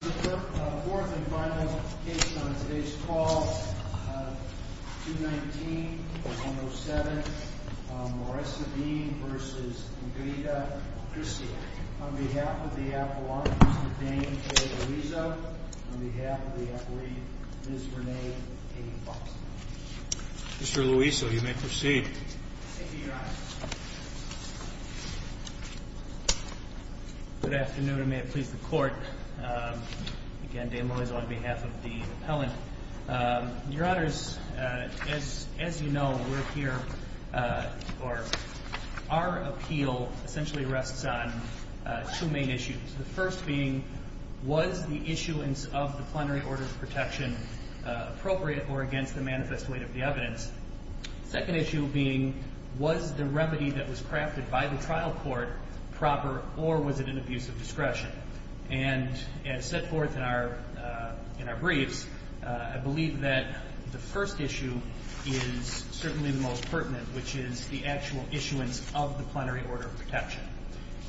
Mr. Clerk, the fourth and final case on today's call, 219-107, Maressa Bean v. Ingrida Krysiak. On behalf of the appellant, Mr. Dane J. Luizzo. On behalf of the appellee, Ms. Renee A. Fox. Mr. Luizzo, you may proceed. Thank you, Your Honor. Good afternoon, and may it please the Court. Again, Dane Luizzo on behalf of the appellant. Your Honors, as you know, we're here for... Our appeal essentially rests on two main issues. The first being, was the issuance of the plenary order of protection appropriate or against the manifest weight of the evidence? Second issue being, was the remedy that was crafted by the trial court proper or was it an abuse of discretion? And as set forth in our briefs, I believe that the first issue is certainly the most pertinent, which is the actual issuance of the plenary order of protection.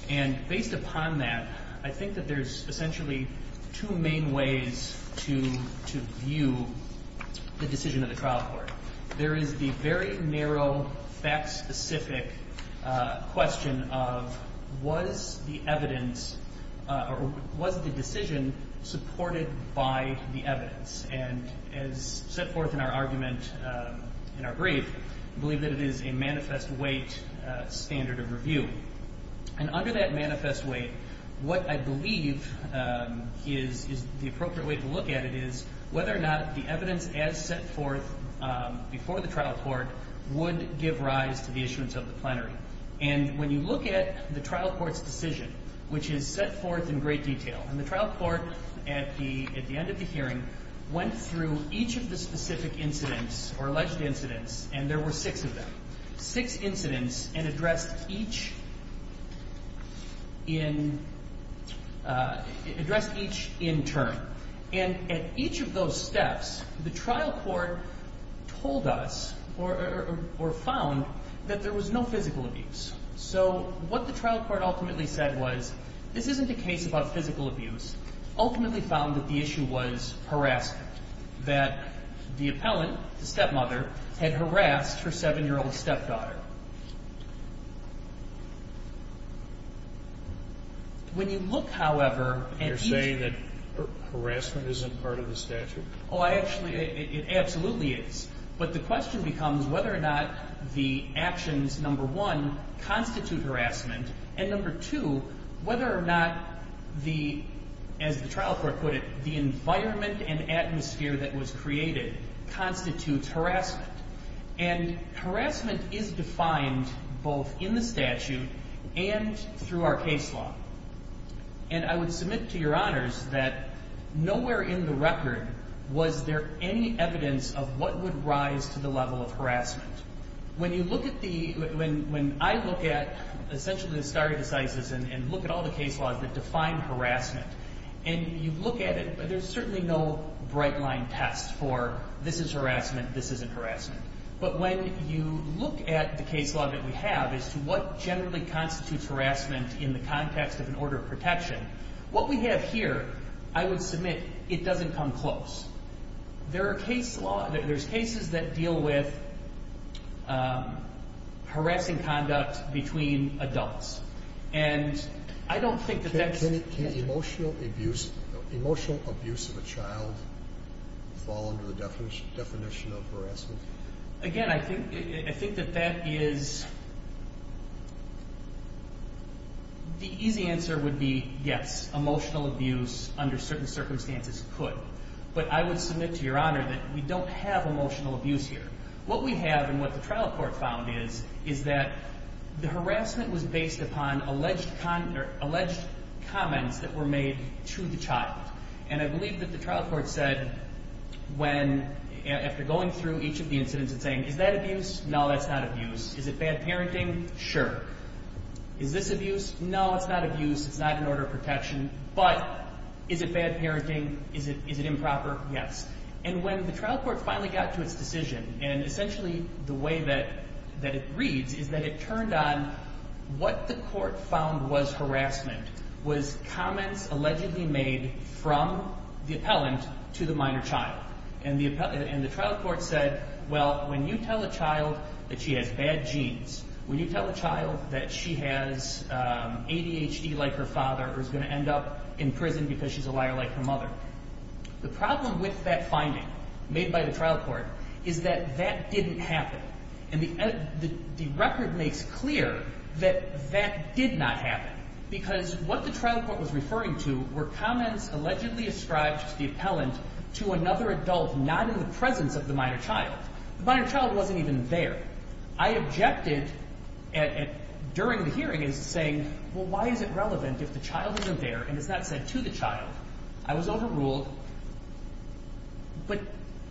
And based upon that, I think that there's essentially two main ways to view the decision of the trial court. There is the very narrow, fact-specific question of, was the evidence or was the decision supported by the evidence? And as set forth in our argument in our brief, I believe that it is a manifest weight standard of review. And under that manifest weight, what I believe is the appropriate way to look at it is whether or not the evidence as set forth before the trial court would give rise to the issuance of the plenary. And when you look at the trial court's decision, which is set forth in great detail, and the trial court at the end of the hearing went through each of the specific incidents or alleged incidents, and there were six of them, six incidents, and addressed each in turn. And at each of those steps, the trial court told us or found that there was no physical abuse. So what the trial court ultimately said was, this isn't a case about physical abuse, ultimately found that the issue was harassment, that the appellant, the stepmother, had harassed her 7-year-old stepdaughter. When you look, however, at each... You're saying that harassment isn't part of the statute? Oh, actually, it absolutely is. But the question becomes whether or not the actions, number one, constitute harassment, and number two, whether or not the, as the trial court put it, the environment and atmosphere that was created constitutes harassment. And harassment is defined both in the statute and through our case law. And I would submit to Your Honors that nowhere in the record was there any evidence of what would rise to the level of harassment. When you look at the... When I look at, essentially, the stare decisis and look at all the case laws that define harassment, and you look at it, there's certainly no bright-line test for, this is harassment, this isn't harassment. But when you look at the case law that we have as to what generally constitutes harassment in the context of an order of protection, what we have here, I would submit, it doesn't come close. There are cases that deal with harassing conduct between adults. And I don't think that that's... Does emotional abuse of a child fall under the definition of harassment? Again, I think that that is... The easy answer would be yes, emotional abuse under certain circumstances could. But I would submit to Your Honor that we don't have emotional abuse here. What we have and what the trial court found is that the harassment was based upon alleged comments that were made to the child. And I believe that the trial court said when, after going through each of the incidents and saying, is that abuse? No, that's not abuse. Is it bad parenting? Sure. Is this abuse? No, it's not abuse. It's not an order of protection. But is it bad parenting? Is it improper? Yes. And when the trial court finally got to its decision, and essentially the way that it reads is that it turned on what the court found was harassment, was comments allegedly made from the appellant to the minor child. And the trial court said, well, when you tell a child that she has bad genes, when you tell a child that she has ADHD like her father or is going to end up in prison because she's a liar like her mother, the problem with that finding made by the trial court is that that didn't happen. And the record makes clear that that did not happen, because what the trial court was referring to were comments allegedly ascribed to the appellant to another adult not in the presence of the minor child. The minor child wasn't even there. I objected during the hearing as to saying, well, why is it relevant if the child isn't there and it's not said to the child? I was overruled. But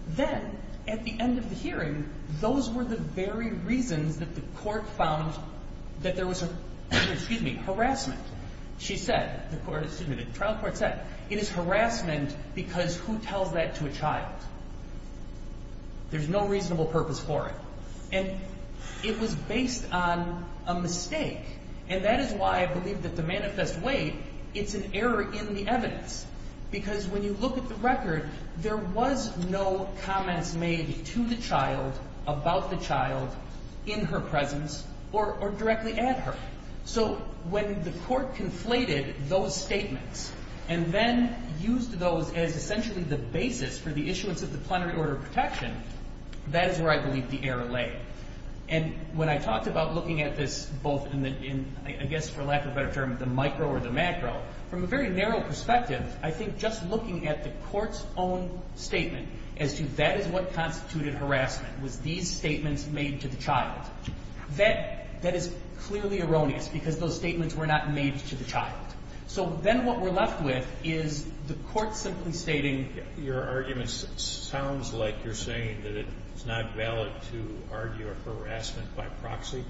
then at the end of the hearing, those were the very reasons that the court found that there was harassment. She said, the trial court said, it is harassment because who tells that to a child? There's no reasonable purpose for it. And it was based on a mistake. And that is why I believe that the manifest weight, it's an error in the evidence. Because when you look at the record, there was no comments made to the child about the child in her presence or directly at her. So when the court conflated those statements and then used those as essentially the basis for the issuance of the plenary order of protection, that is where I believe the error lay. And when I talked about looking at this both in the, I guess for lack of a better term, the micro or the macro, from a very narrow perspective, I think just looking at the court's own statement as to that is what constituted harassment, was these statements made to the child. That is clearly erroneous because those statements were not made to the child. So then what we're left with is the court simply stating. I think your argument sounds like you're saying that it's not valid to argue a harassment by proxy.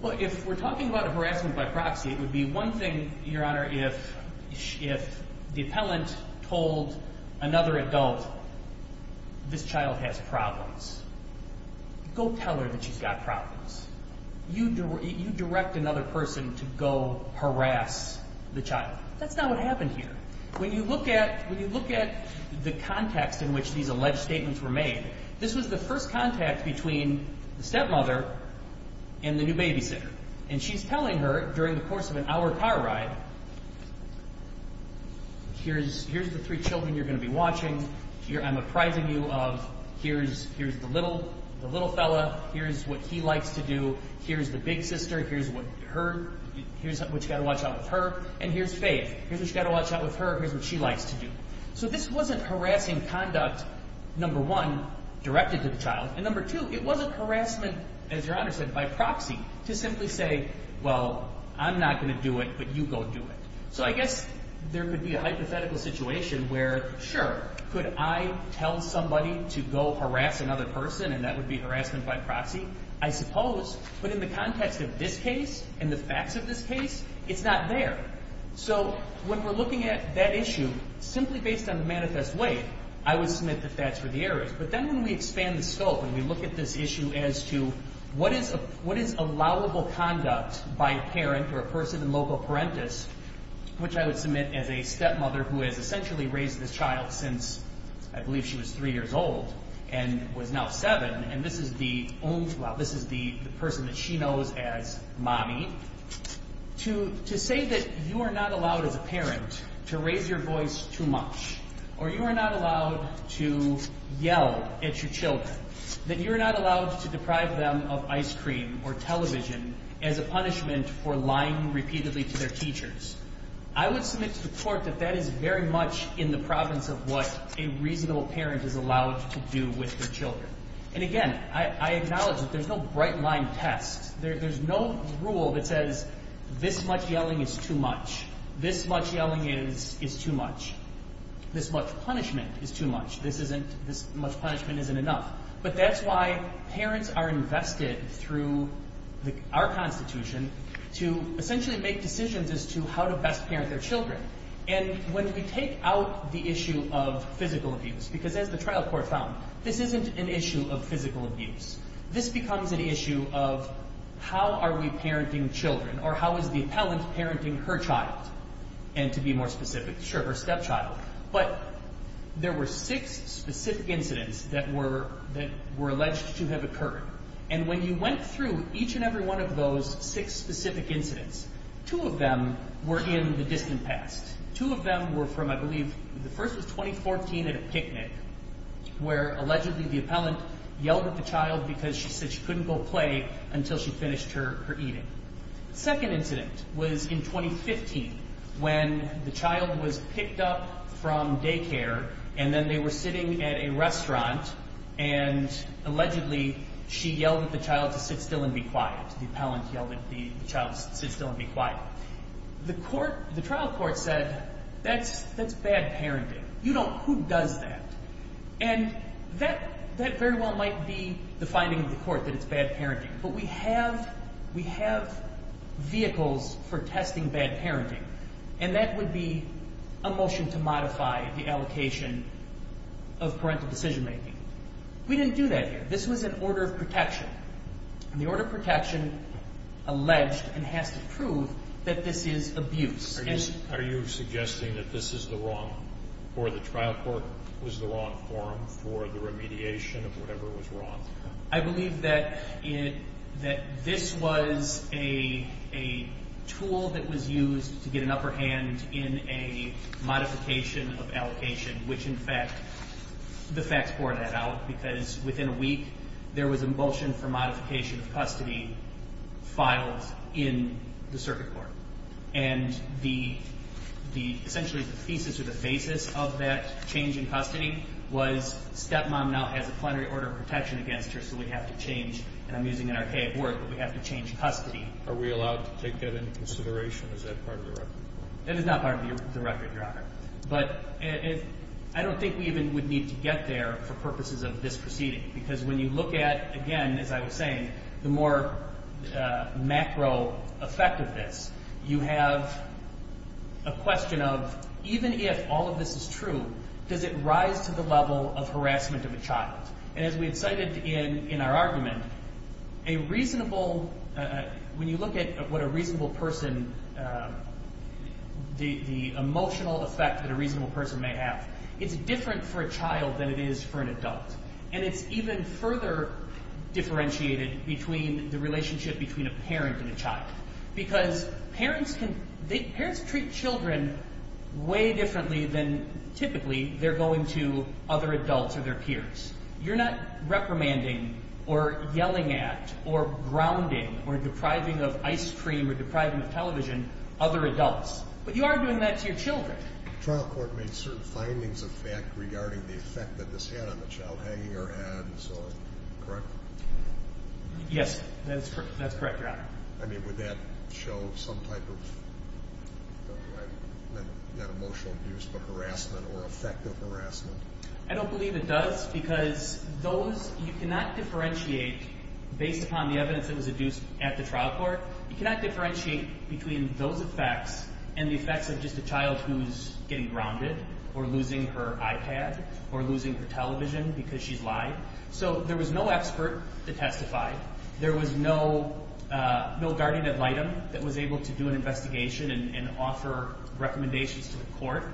Well, if we're talking about a harassment by proxy, it would be one thing, Your Honor, if the appellant told another adult this child has problems, go tell her that she's got problems. You direct another person to go harass the child. That's not what happened here. When you look at the context in which these alleged statements were made, this was the first contact between the stepmother and the new babysitter. And she's telling her during the course of an hour car ride, here's the three children you're going to be watching, I'm apprising you of, here's the little fella, here's what he likes to do, here's the big sister, here's what you've got to watch out with her, and here's Faith. Here's what you've got to watch out with her, here's what she likes to do. So this wasn't harassing conduct, number one, directed to the child, and number two, it wasn't harassment, as Your Honor said, by proxy, to simply say, well, I'm not going to do it, but you go do it. So I guess there could be a hypothetical situation where, sure, could I tell somebody to go harass another person and that would be harassment by proxy? I suppose, but in the context of this case and the facts of this case, it's not there. So when we're looking at that issue, simply based on the manifest way, I would submit that that's where the error is. But then when we expand the scope and we look at this issue as to what is allowable conduct by a parent or a person in loco parentis, which I would submit as a stepmother who has essentially raised this child since I believe she was three years old and was now seven, and this is the person that she knows as Mommy, to say that you are not allowed as a parent to raise your voice too much or you are not allowed to yell at your children, that you are not allowed to deprive them of ice cream or television as a punishment for lying repeatedly to their teachers, I would submit to the court that that is very much in the province of what a reasonable parent is allowed to do with their children. And again, I acknowledge that there's no bright-line test. There's no rule that says this much yelling is too much. This much yelling is too much. This much punishment is too much. This much punishment isn't enough. But that's why parents are invested through our Constitution to essentially make decisions as to how to best parent their children. And when we take out the issue of physical abuse, because as the trial court found, this isn't an issue of physical abuse. This becomes an issue of how are we parenting children or how is the appellant parenting her child? And to be more specific, sure, her stepchild. But there were six specific incidents that were alleged to have occurred. And when you went through each and every one of those six specific incidents, two of them were in the distant past. Two of them were from, I believe, the first was 2014 at a picnic where allegedly the appellant yelled at the child because she said she couldn't go play until she finished her eating. The second incident was in 2015 when the child was picked up from daycare and then they were sitting at a restaurant and allegedly she yelled at the child to sit still and be quiet. The appellant yelled at the child to sit still and be quiet. The trial court said, that's bad parenting. Who does that? And that very well might be the finding of the court, that it's bad parenting. But we have vehicles for testing bad parenting, and that would be a motion to modify the allocation of parental decision making. We didn't do that here. This was an order of protection, and the order of protection alleged and has to prove that this is abuse. Are you suggesting that this is the wrong, or the trial court was the wrong forum for the remediation of whatever was wrong? I believe that this was a tool that was used to get an upper hand in a modification of allocation, which in fact, the facts bore that out because within a week there was a motion for modification of custody filed in the circuit court. And essentially the thesis or the basis of that change in custody was stepmom now has a plenary order of protection against her, so we have to change, and I'm using an archaic word, but we have to change custody. Are we allowed to take that into consideration? Is that part of the record? That is not part of the record, Your Honor. But I don't think we even would need to get there for purposes of this proceeding because when you look at, again, as I was saying, the more macro effect of this, you have a question of even if all of this is true, does it rise to the level of harassment of a child? And as we've cited in our argument, a reasonable, when you look at what a reasonable person, the emotional effect that a reasonable person may have, it's different for a child than it is for an adult. And it's even further differentiated between the relationship between a parent and a child because parents treat children way differently than typically they're going to other adults or their peers. You're not reprimanding or yelling at or grounding or depriving of ice cream or depriving of television other adults, but you are doing that to your children. The trial court made certain findings of fact regarding the effect that this had on the child, hanging her head and so on, correct? Yes, that's correct, Your Honor. I mean, would that show some type of, not emotional abuse, but harassment or effective harassment? I don't believe it does because those, you cannot differentiate, based upon the evidence that was adduced at the trial court, you cannot differentiate between those effects and the effects of just a child who's getting grounded or losing her iPad or losing her television because she's live. So there was no expert to testify. There was no guardian ad litem that was able to do an investigation and offer recommendations to the court.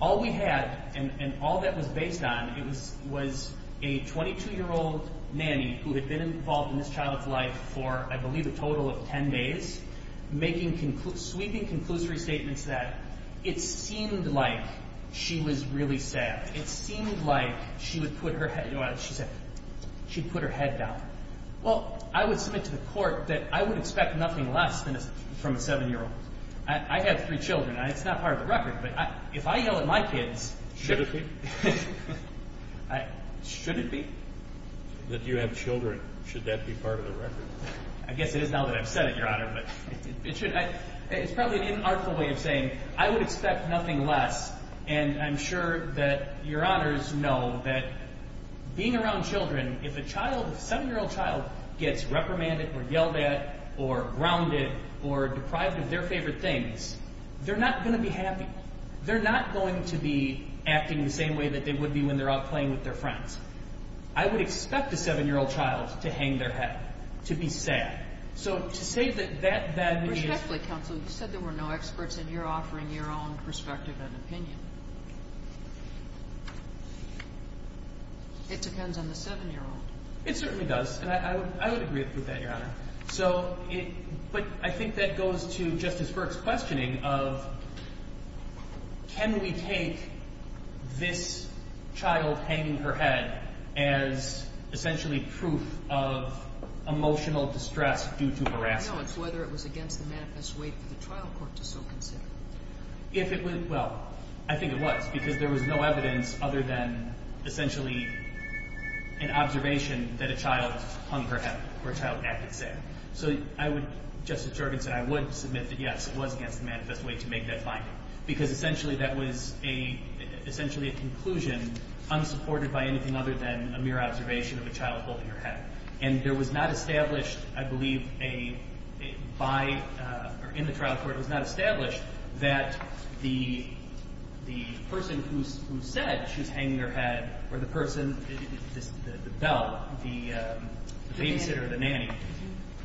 All we had and all that was based on was a 22-year-old nanny who had been involved in this child's life for, I believe, a total of 10 days, sweeping conclusory statements that it seemed like she was really sad. It seemed like she would put her head down. Well, I would submit to the court that I would expect nothing less from a 7-year-old. I have three children. It's not part of the record, but if I yell at my kids... Should it be? Should it be? That you have children, should that be part of the record? I guess it is now that I've said it, Your Honor, but it should. It's probably an inartful way of saying I would expect nothing less, and I'm sure that Your Honors know that being around children, if a 7-year-old child gets reprimanded or yelled at or grounded or deprived of their favorite things, they're not going to be happy. They're not going to be acting the same way that they would be when they're out playing with their friends. I would expect a 7-year-old child to hang their head, to be sad. So to say that that means... Respectfully, counsel, you said there were no experts, and you're offering your own perspective and opinion. It depends on the 7-year-old. It certainly does, and I would agree with that, Your Honor. But I think that goes to Justice Burke's questioning of can we take this child hanging her head as essentially proof of emotional distress due to harassment. No, it's whether it was against the manifest way for the trial court to so consider. Well, I think it was, because there was no evidence other than essentially an observation that a child hung her head or a child acted sad. So Justice Juergen said I would submit that, yes, it was against the manifest way to make that finding, because essentially that was a conclusion unsupported by anything other than a mere observation of a child holding her head. And there was not established, I believe, by... The trial court was not established that the person who said she was hanging her head or the person, the bell, the babysitter or the nanny,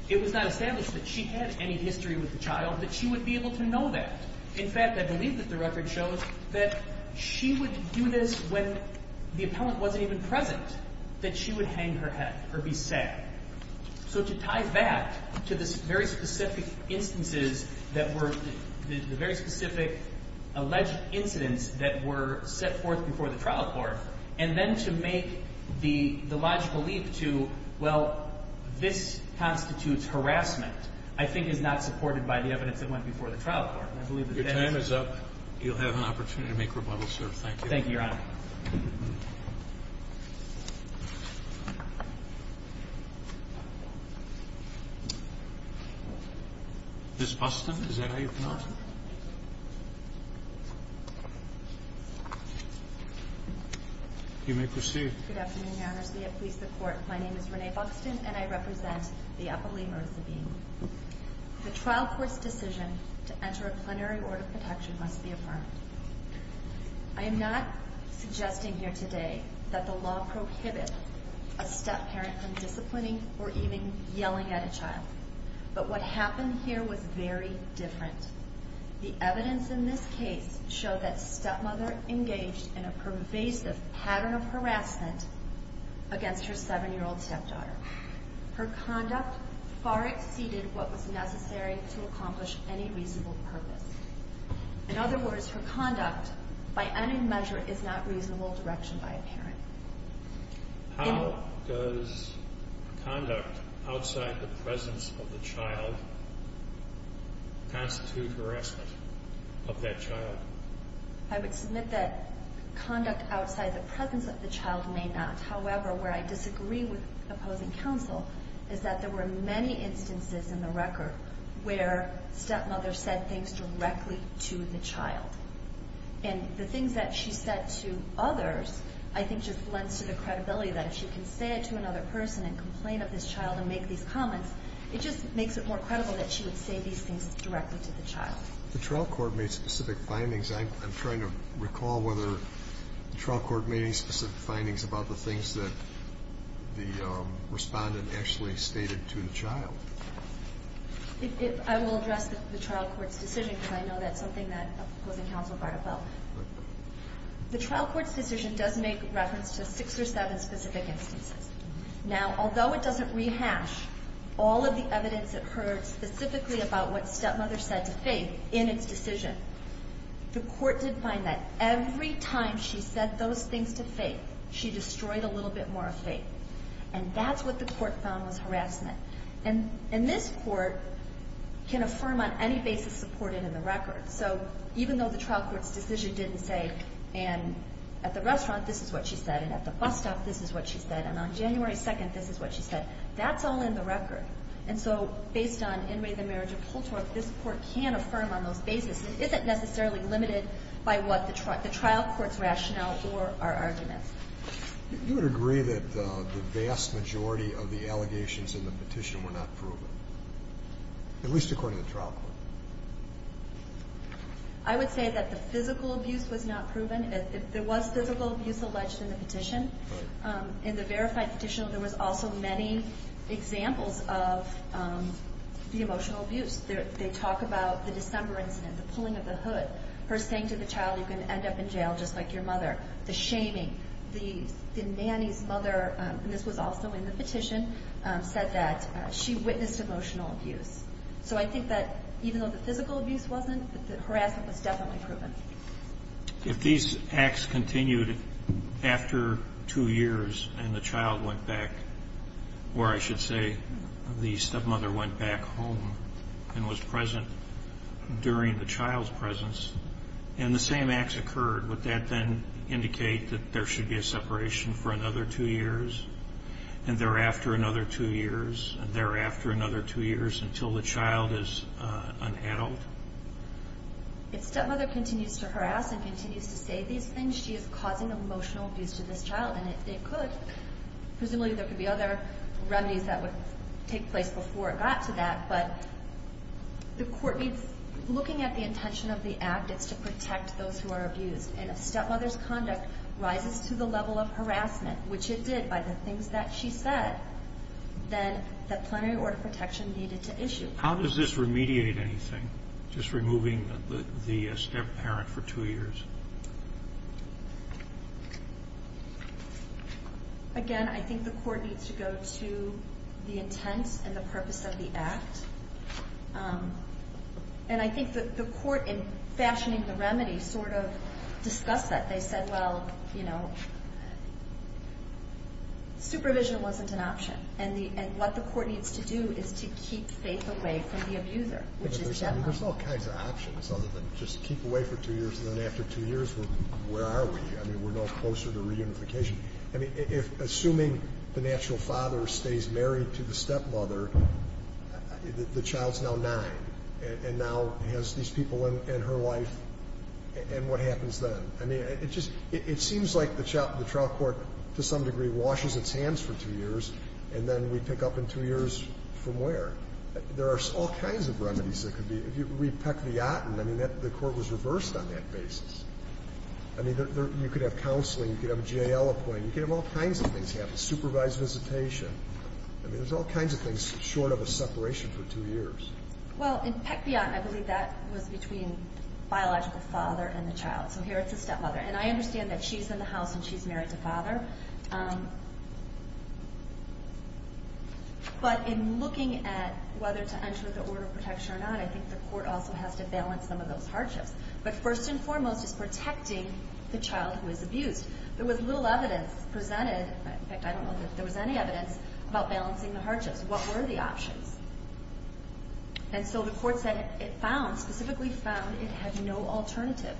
it was not established that she had any history with the child, that she would be able to know that. In fact, I believe that the record shows that she would do this when the appellant wasn't even present, that she would hang her head or be sad. So to tie back to the very specific instances that were the very specific alleged incidents that were set forth before the trial court and then to make the logical leap to, well, this constitutes harassment, I think is not supported by the evidence that went before the trial court. Your time is up. You'll have an opportunity to make rebuttals, sir. Thank you. Thank you, Your Honor. Ms. Buxton, is that how you pronounce it? You may proceed. Good afternoon, Your Honors. We have pleased the Court. My name is Renee Buxton, and I represent the appellee, Marisa Bean. The trial court's decision to enter a plenary order of protection must be affirmed. I am not suggesting here today that the law prohibit a step-parent from disciplining or even yelling at a child. But what happened here was very different. The evidence in this case showed that stepmother engaged in a pervasive pattern of harassment against her 7-year-old stepdaughter. Her conduct far exceeded what was necessary to accomplish any reasonable purpose. In other words, her conduct, by any measure, is not reasonable direction by a parent. How does conduct outside the presence of the child constitute harassment of that child? I would submit that conduct outside the presence of the child may not. However, where I disagree with opposing counsel is that there were many instances in the record where stepmother said things directly to the child. And the things that she said to others I think just lends to the credibility that if she can say it to another person and complain of this child and make these comments, it just makes it more credible that she would say these things directly to the child. The trial court made specific findings. I'm trying to recall whether the trial court made any specific findings about the things that the Respondent actually stated to the child. I will address the trial court's decision because I know that's something that opposing counsel brought about. The trial court's decision does make reference to six or seven specific instances. Now, although it doesn't rehash all of the evidence that heard specifically about what stepmother said to Faith in its decision, the court did find that every time she said those things to Faith, she destroyed a little bit more of Faith. And that's what the court found was harassment. And this court can affirm on any basis supported in the record. So even though the trial court's decision didn't say, and at the restaurant, this is what she said, and at the bus stop, this is what she said, and on January 2nd, this is what she said, that's all in the record. And so based on Inmate of the Marriage of Holtorf, this court can affirm on those basis. It isn't necessarily limited by what the trial court's rationale or our arguments. You would agree that the vast majority of the allegations in the petition were not proven, at least according to the trial court. I would say that the physical abuse was not proven. There was physical abuse alleged in the petition. In the verified petition, there was also many examples of the emotional abuse. They talk about the December incident, the pulling of the hood, her saying to the child, you're going to end up in jail just like your mother, and this was also in the petition, said that she witnessed emotional abuse. So I think that even though the physical abuse wasn't, the harassment was definitely proven. If these acts continued after two years and the child went back, or I should say the stepmother went back home and was present during the child's presence, and the same acts occurred, would that then indicate that there should be a separation for another two years? And thereafter another two years, and thereafter another two years until the child is an adult? If stepmother continues to harass and continues to say these things, she is causing emotional abuse to this child, and it could, presumably there could be other remedies that would take place before it got to that, but the court needs, looking at the intention of the act, it's to protect those who are abused. And if stepmother's conduct rises to the level of harassment, which it did by the things that she said, then the plenary order of protection needed to issue. How does this remediate anything, just removing the stepparent for two years? Again, I think the court needs to go to the intent and the purpose of the act. And I think that the court, in fashioning the remedy, sort of discussed that. They said, well, you know, supervision wasn't an option, and what the court needs to do is to keep Faith away from the abuser, which is the stepmother. There's all kinds of options other than just keep away for two years, and then after two years, where are we? I mean, we're no closer to reunification. I mean, assuming the natural father stays married to the stepmother, the child's now nine, and now has these people in her life, and what happens then? I mean, it just seems like the trial court, to some degree, washes its hands for two years, and then we pick up in two years from where? There are all kinds of remedies that could be. If you read Peck v. Yotten, I mean, the court was reversed on that basis. I mean, you could have counseling, you could have a J.L. appointment, you could have all kinds of things happen, supervised visitation. I mean, there's all kinds of things short of a separation for two years. Well, in Peck v. Yotten, I believe that was between biological father and the child. So here it's the stepmother, and I understand that she's in the house and she's married to father. But in looking at whether to enter the order of protection or not, I think the court also has to balance some of those hardships. But first and foremost is protecting the child who is abused. There was little evidence presented, in fact, I don't know if there was any evidence, about balancing the hardships. What were the options? And so the court said it found, specifically found it had no alternative.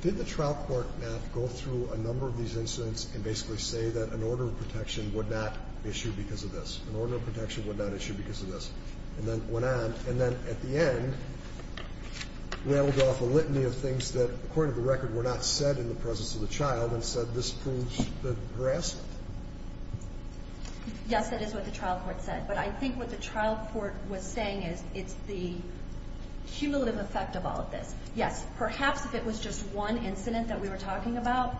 Did the trial court not go through a number of these incidents and basically say that an order of protection would not issue because of this? An order of protection would not issue because of this? And then went on, and then at the end, rambled off a litany of things that, according to the record, were not said in the presence of the child, and said this proves the harassment. Yes, that is what the trial court said. But I think what the trial court was saying is it's the cumulative effect of all of this. Yes, perhaps if it was just one incident that we were talking about,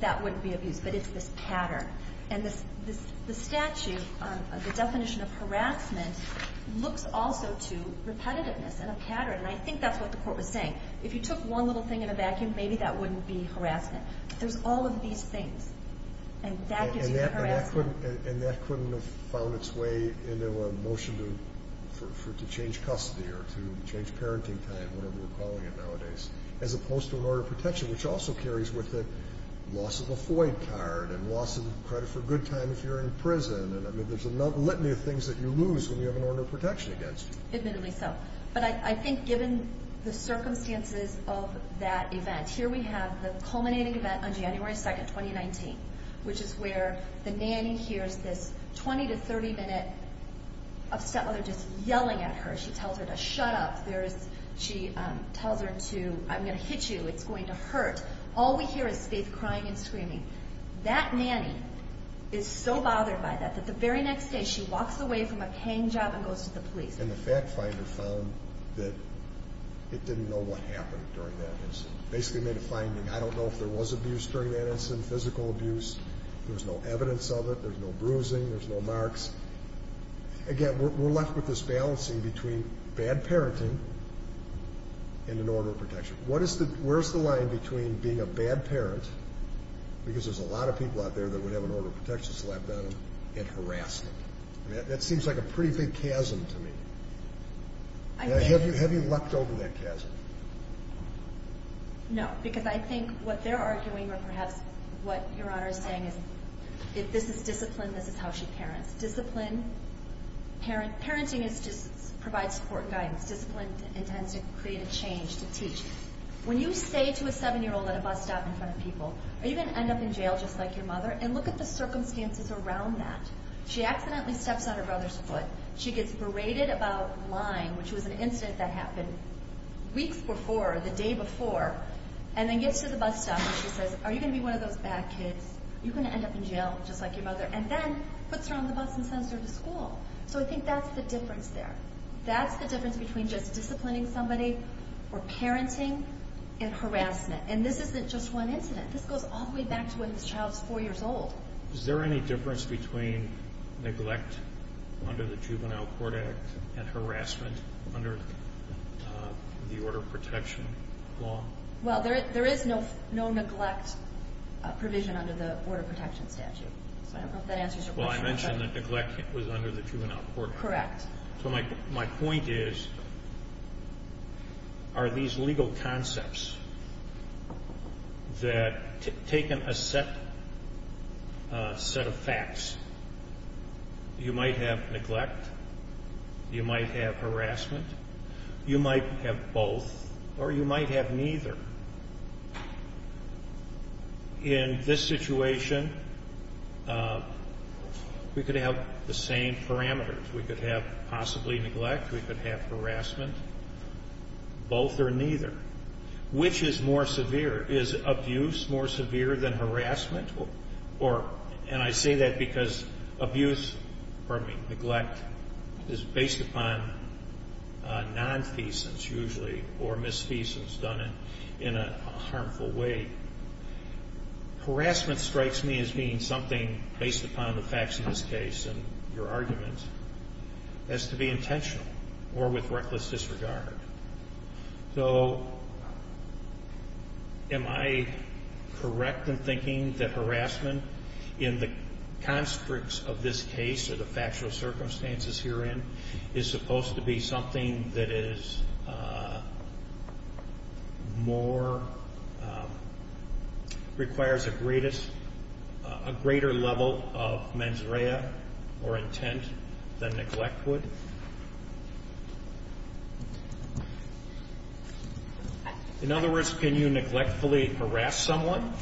that wouldn't be abuse, but it's this pattern. And the statute, the definition of harassment, looks also to repetitiveness and a pattern, and I think that's what the court was saying. If you took one little thing in a vacuum, maybe that wouldn't be harassment. There's all of these things, and that gives you harassment. And that couldn't have found its way into a motion to change custody or to change parenting time, whatever we're calling it nowadays, as opposed to an order of protection, which also carries with it loss of a FOID card and loss of credit for good time if you're in prison. I mean, there's a litany of things that you lose when you have an order of protection against you. Admittedly so. But I think given the circumstances of that event, here we have the culminating event on January 2, 2019, which is where the nanny hears this 20 to 30-minute upset mother just yelling at her. She tells her to shut up. She tells her to, I'm going to hit you. It's going to hurt. All we hear is Faith crying and screaming. That nanny is so bothered by that that the very next day she walks away from a paying job and goes to the police. And the fact finder found that it didn't know what happened during that incident. Basically made a finding. I don't know if there was abuse during that incident, physical abuse. There's no evidence of it. There's no bruising. There's no marks. Again, we're left with this balancing between bad parenting and an order of protection. Where's the line between being a bad parent, because there's a lot of people out there that would have an order of protection slapped on them, and harassing? That seems like a pretty big chasm to me. Have you leapt over that chasm? No, because I think what they're arguing, or perhaps what Your Honor is saying, is if this is discipline, this is how she parents. Discipline. Parenting is to provide support and guidance. Discipline intends to create a change, to teach. When you say to a 7-year-old at a bus stop in front of people, are you going to end up in jail just like your mother? And look at the circumstances around that. She accidentally steps on her brother's foot. She gets berated about lying, which was an incident that happened. Weeks before, the day before, and then gets to the bus stop, and she says, are you going to be one of those bad kids? Are you going to end up in jail just like your mother? And then puts her on the bus and sends her to school. So I think that's the difference there. That's the difference between just disciplining somebody, or parenting, and harassment. And this isn't just one incident. This goes all the way back to when this child was 4 years old. Is there any difference between neglect under the Juvenile Court Act and harassment under the Order of Protection law? Well, there is no neglect provision under the Order of Protection statute. So I don't know if that answers your question. Well, I mentioned that neglect was under the Juvenile Court Act. Correct. So my point is, are these legal concepts that, taken a set of facts, you might have neglect, you might have harassment, you might have both, or you might have neither. In this situation, we could have the same parameters. We could have possibly neglect, we could have harassment, both or neither. Which is more severe? Is abuse more severe than harassment? And I say that because abuse, or neglect, is based upon nonfeasance, usually, or misfeasance done in a harmful way. Harassment strikes me as being something based upon the facts in this case and your argument as to be intentional or with reckless disregard. So am I correct in thinking that harassment in the constructs of this case, or the factual circumstances herein, is supposed to be something that is more, requires a greater level of mens rea or intent than neglect would? In other words, can you neglectfully harass someone?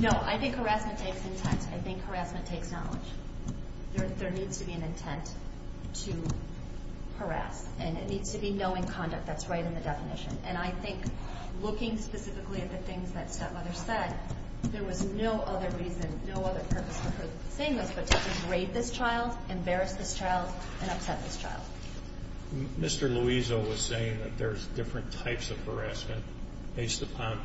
No. I think harassment takes intent. I think harassment takes knowledge. There needs to be an intent to harass. And it needs to be knowing conduct that's right in the definition. And I think, looking specifically at the things that Stepmother said, there was no other reason, no other purpose for her saying this but to degrade this child, embarrass this child, and upset this child. Mr. Louiso was saying that there's different types of harassment based upon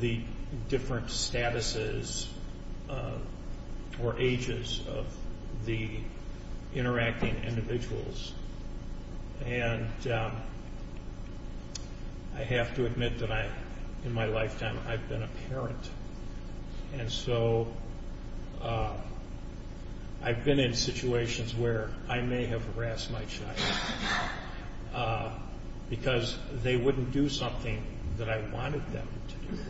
the different statuses or ages of the interacting individuals. And I have to admit that in my lifetime I've been a parent. And so I've been in situations where I may have harassed my child because they wouldn't do something that I wanted them to do.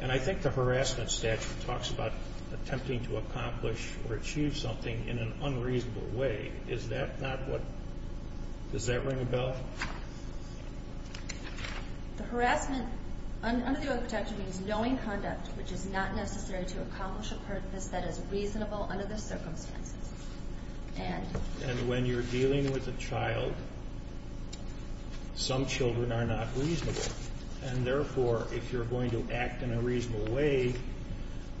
And I think the harassment statute talks about attempting to accomplish or achieve something in an unreasonable way. Is that not what, does that ring a bell? The harassment under the Earth Protection Act means knowing conduct which is not necessary to accomplish a purpose that is reasonable under the circumstances. And when you're dealing with a child, some children are not reasonable. And therefore, if you're going to act in a reasonable way,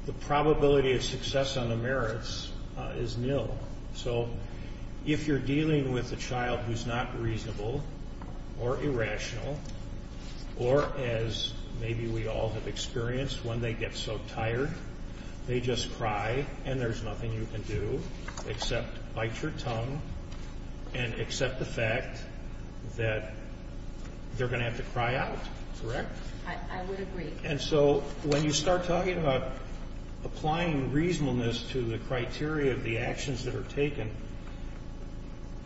the probability of success on the merits is nil. So if you're dealing with a child who's not reasonable or irrational or as maybe we all have experienced when they get so tired they just cry and there's nothing you can do except bite your tongue and accept the fact that they're going to have to cry out, correct? I would agree. And so when you start talking about applying reasonableness to the criteria of the actions that are taken,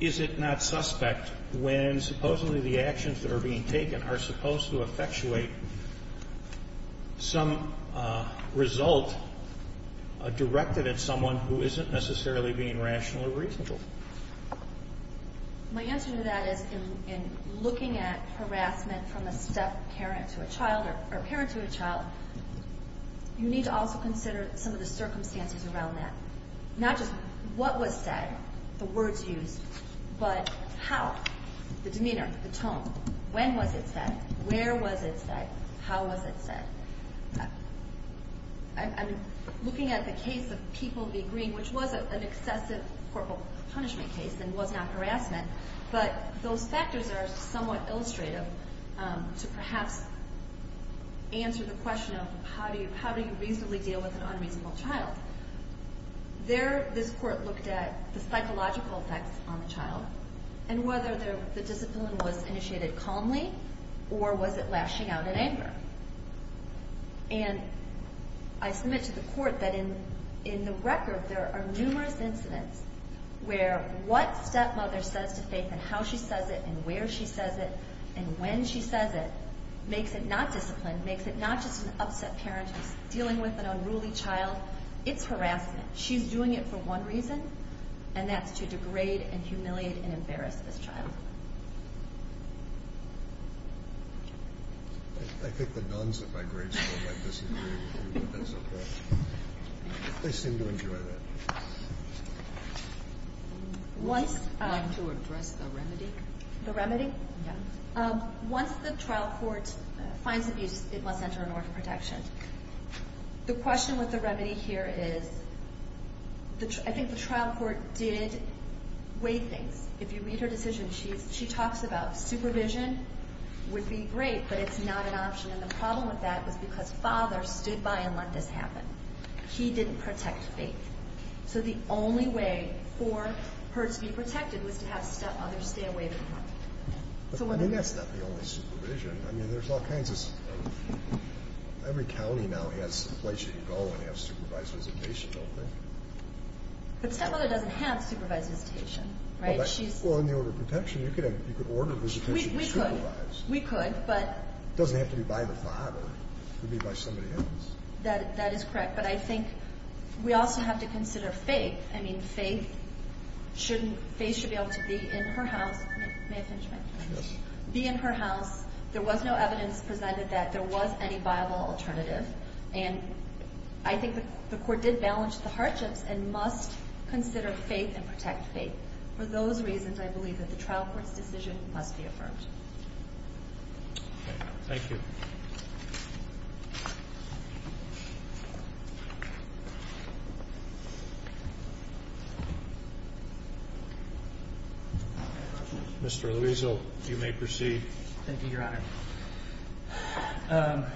is it not suspect when supposedly the actions that are being taken are supposed to effectuate some result directed at someone who isn't necessarily being rational or reasonable? My answer to that is in looking at harassment from a deaf parent to a child or parent to a child, you need to also consider some of the circumstances around that. Not just what was said, the words used, but how, the demeanor, the tone. When was it said? Where was it said? How was it said? I'm looking at the case of People v. Green, which was an excessive corporal punishment case and was not harassment, but those factors are somewhat illustrative to perhaps answer the question of how do you reasonably deal with an unreasonable child. There this court looked at the psychological effects on the child and whether the discipline was initiated calmly or was it lashing out in anger. And I submit to the court that in the record there are numerous incidents where what stepmother says to Faith and how she says it and where she says it and when she says it makes it not discipline, makes it not just an upset parent who's dealing with an unruly child. It's harassment. She's doing it for one reason, and that's to degrade and humiliate and embarrass this child. I think the nuns at my grade school might disagree with you, but that's okay. They seem to enjoy that. Would you like to address the remedy? The remedy? Yeah. Once the trial court finds abuse, it must enter a norm of protection. The question with the remedy here is I think the trial court did weigh things. If you read her decision, she talks about supervision would be great, but it's not an option. And the problem with that was because Father stood by and let this happen. He didn't protect Faith. So the only way for her to be protected was to have stepmother stay away from her. I mean, that's not the only supervision. I mean, there's all kinds of stuff. Every county now has a place you can go when you have supervised visitation, don't they? But stepmother doesn't have supervised visitation, right? Well, in the order of protection, you could order visitation to supervise. We could, but. It doesn't have to be by the father. It could be by somebody else. That is correct. But I think we also have to consider Faith. I mean, Faith should be able to be in her house. May I finish my question? Yes. Be in her house. There was no evidence presented that there was any viable alternative. And I think the court did balance the hardships and must consider Faith and protect Faith. For those reasons, I believe that the trial court's decision must be affirmed. Okay. Thank you. Mr. Liesel, you may proceed. Thank you, Your Honor.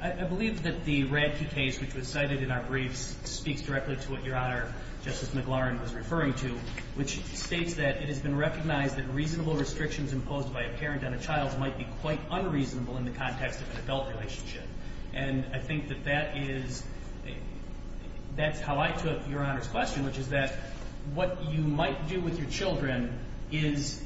I believe that the RAD2 case, which was cited in our briefs, speaks directly to what Your Honor, Justice McLaurin, was referring to, which states that it has been recognized that reasonable restrictions imposed by a parent on a child might be quite unreasonable in the context of an adult relationship. And I think that that is the case. That's how I took Your Honor's question, which is that what you might do with your children is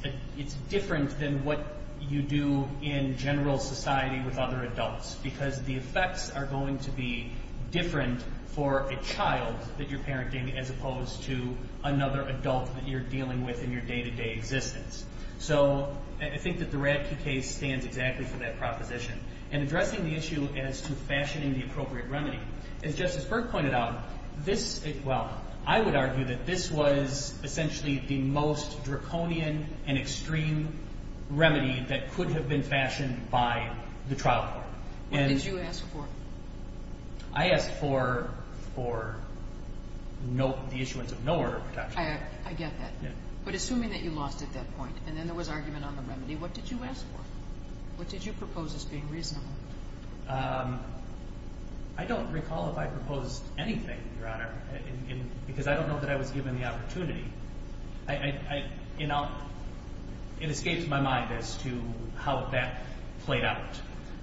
different than what you do in general society with other adults because the effects are going to be different for a child that you're parenting as opposed to another adult that you're dealing with in your day-to-day existence. So I think that the RAD2 case stands exactly for that proposition. And addressing the issue as to fashioning the appropriate remedy, as Justice Burke pointed out, this, well, I would argue that this was essentially the most draconian and extreme remedy that could have been fashioned by the trial court. What did you ask for? I asked for the issuance of no order of protection. I get that. But assuming that you lost at that point and then there was argument on the remedy, what did you ask for? What did you propose as being reasonable? I don't recall if I proposed anything, Your Honor, because I don't know that I was given the opportunity. It escapes my mind as to how that played out.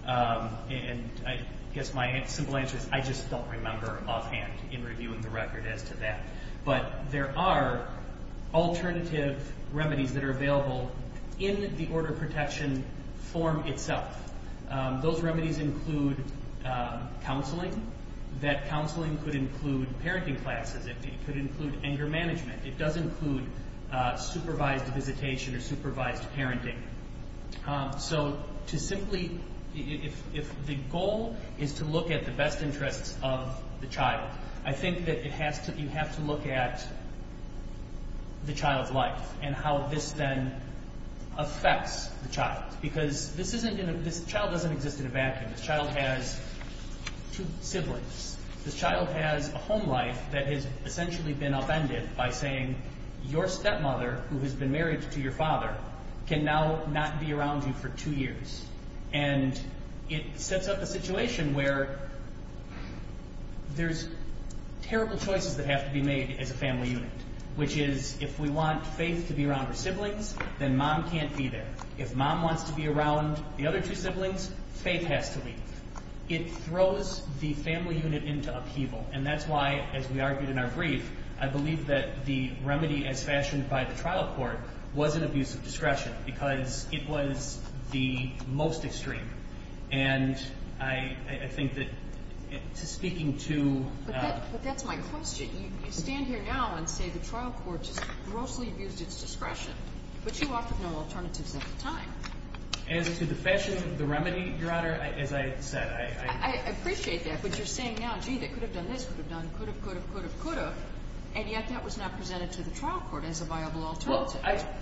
And I guess my simple answer is I just don't remember offhand in reviewing the record as to that. But there are alternative remedies that are available in the order of protection form itself. Those remedies include counseling. That counseling could include parenting classes. It could include anger management. It does include supervised visitation or supervised parenting. So to simply, if the goal is to look at the best interests of the child, I think that you have to look at the child's life and how this then affects the child. Because this child doesn't exist in a vacuum. This child has two siblings. This child has a home life that has essentially been upended by saying, your stepmother, who has been married to your father, can now not be around you for two years. And it sets up a situation where there's terrible choices that have to be made as a family unit, which is if we want Faith to be around her siblings, then Mom can't be there. If Mom wants to be around the other two siblings, Faith has to leave. It throws the family unit into upheaval. And that's why, as we argued in our brief, I believe that the remedy as fashioned by the trial court was an abuse of discretion because it was the most extreme. And I think that speaking to – But that's my question. You stand here now and say the trial court just grossly abused its discretion, but you often know alternatives at the time. As to the fashion of the remedy, Your Honor, as I said, I – I appreciate that, but you're saying now, gee, they could have done this, could have done could have, could have, could have, could have, and yet that was not presented to the trial court as a viable alternative. Well, I –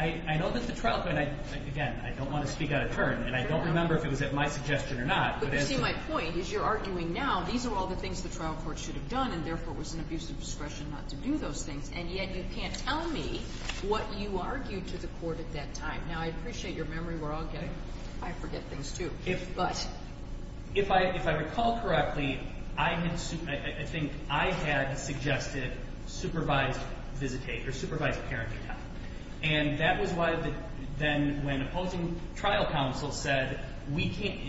I know that the trial court – again, I don't want to speak out of turn, and I don't remember if it was at my suggestion or not, but as to – But you see, my point is you're arguing now these are all the things the trial court should have done and therefore it was an abuse of discretion not to do those things, and yet you can't tell me what you argued to the court at that time. Now, I appreciate your memory. We're all getting – I forget things, too. But – If I recall correctly, I had – And that was why then when opposing trial counsel said we can't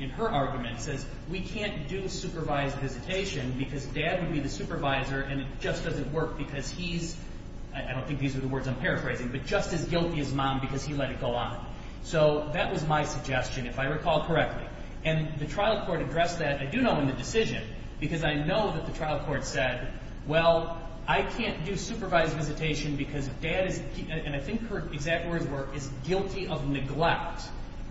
– in her argument says we can't do supervised visitation because dad would be the supervisor and it just doesn't work because he's – I don't think these are the words I'm paraphrasing, but just as guilty as mom because he let it go on. So that was my suggestion, if I recall correctly. And the trial court addressed that, I do know, in the decision, because I know that the trial court said, well, I can't do supervised visitation because dad is – and I think her exact words were is guilty of neglect,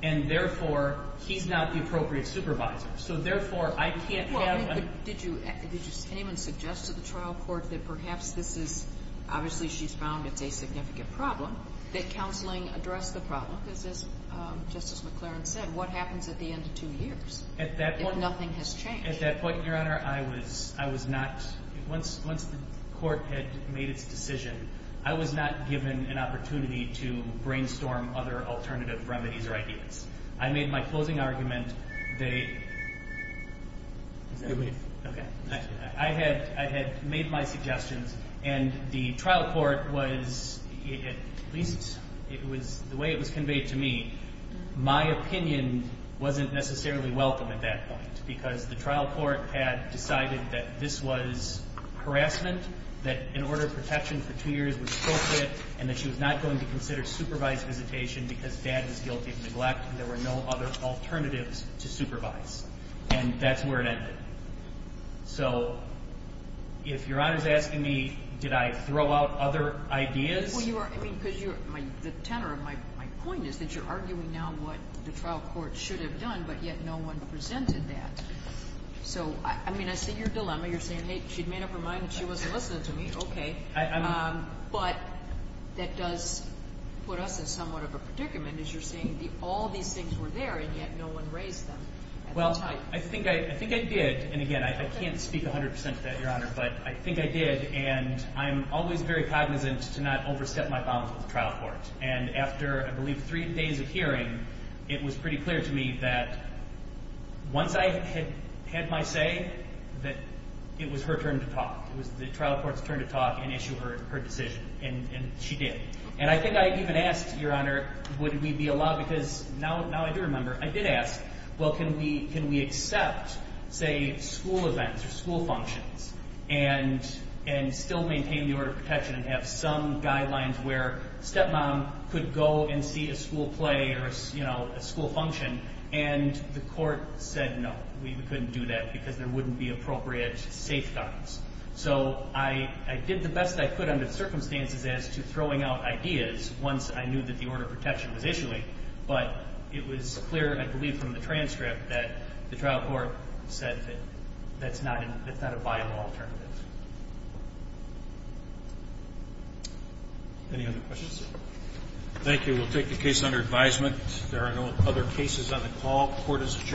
and therefore he's not the appropriate supervisor. So therefore, I can't have – Did you – did anyone suggest to the trial court that perhaps this is – obviously she's found it's a significant problem, that counseling addressed the problem? Because as Justice McLaren said, what happens at the end of two years? At that point – If nothing has changed? At that point, Your Honor, I was not – once the court had made its decision, I was not given an opportunity to brainstorm other alternative remedies or ideas. I made my closing argument. They – I had made my suggestions, and the trial court was – at least the way it was conveyed to me, my opinion wasn't necessarily welcome at that point because the trial court had decided that this was harassment, that an order of protection for two years was appropriate, and that she was not going to consider supervised visitation because dad is guilty of neglect, and there were no other alternatives to supervise. And that's where it ended. So if Your Honor is asking me, did I throw out other ideas – Well, you are – I mean, because you're – the tenor of my point is that you're arguing now what the trial court should have done, but yet no one presented that. So, I mean, I see your dilemma. You're saying, hey, she'd made up her mind, and she wasn't listening to me. Okay. But that does put us in somewhat of a predicament as you're saying all these things were there, and yet no one raised them at the time. Well, I think I did. And again, I can't speak 100 percent to that, Your Honor, but I think I did, and I'm always very cognizant to not overstep my bounds with the trial court. And after, I believe, three days of hearing, it was pretty clear to me that once I had my say, that it was her turn to talk. It was the trial court's turn to talk and issue her decision. And she did. And I think I even asked, Your Honor, would we be allowed – because now I do remember. I did ask, well, can we accept, say, school events or school functions and still maintain the order of protection and have some guidelines where a stepmom could go and see a school play or a school function, and the court said no. We couldn't do that because there wouldn't be appropriate safeguards. So I did the best I could under the circumstances as to throwing out ideas once I knew that the order of protection was issuing, but it was clear, I believe, from the transcript that the trial court said that that's not a viable alternative. Any other questions? Thank you. We will take the case under advisement. There are no other cases on the call. Court is adjourned.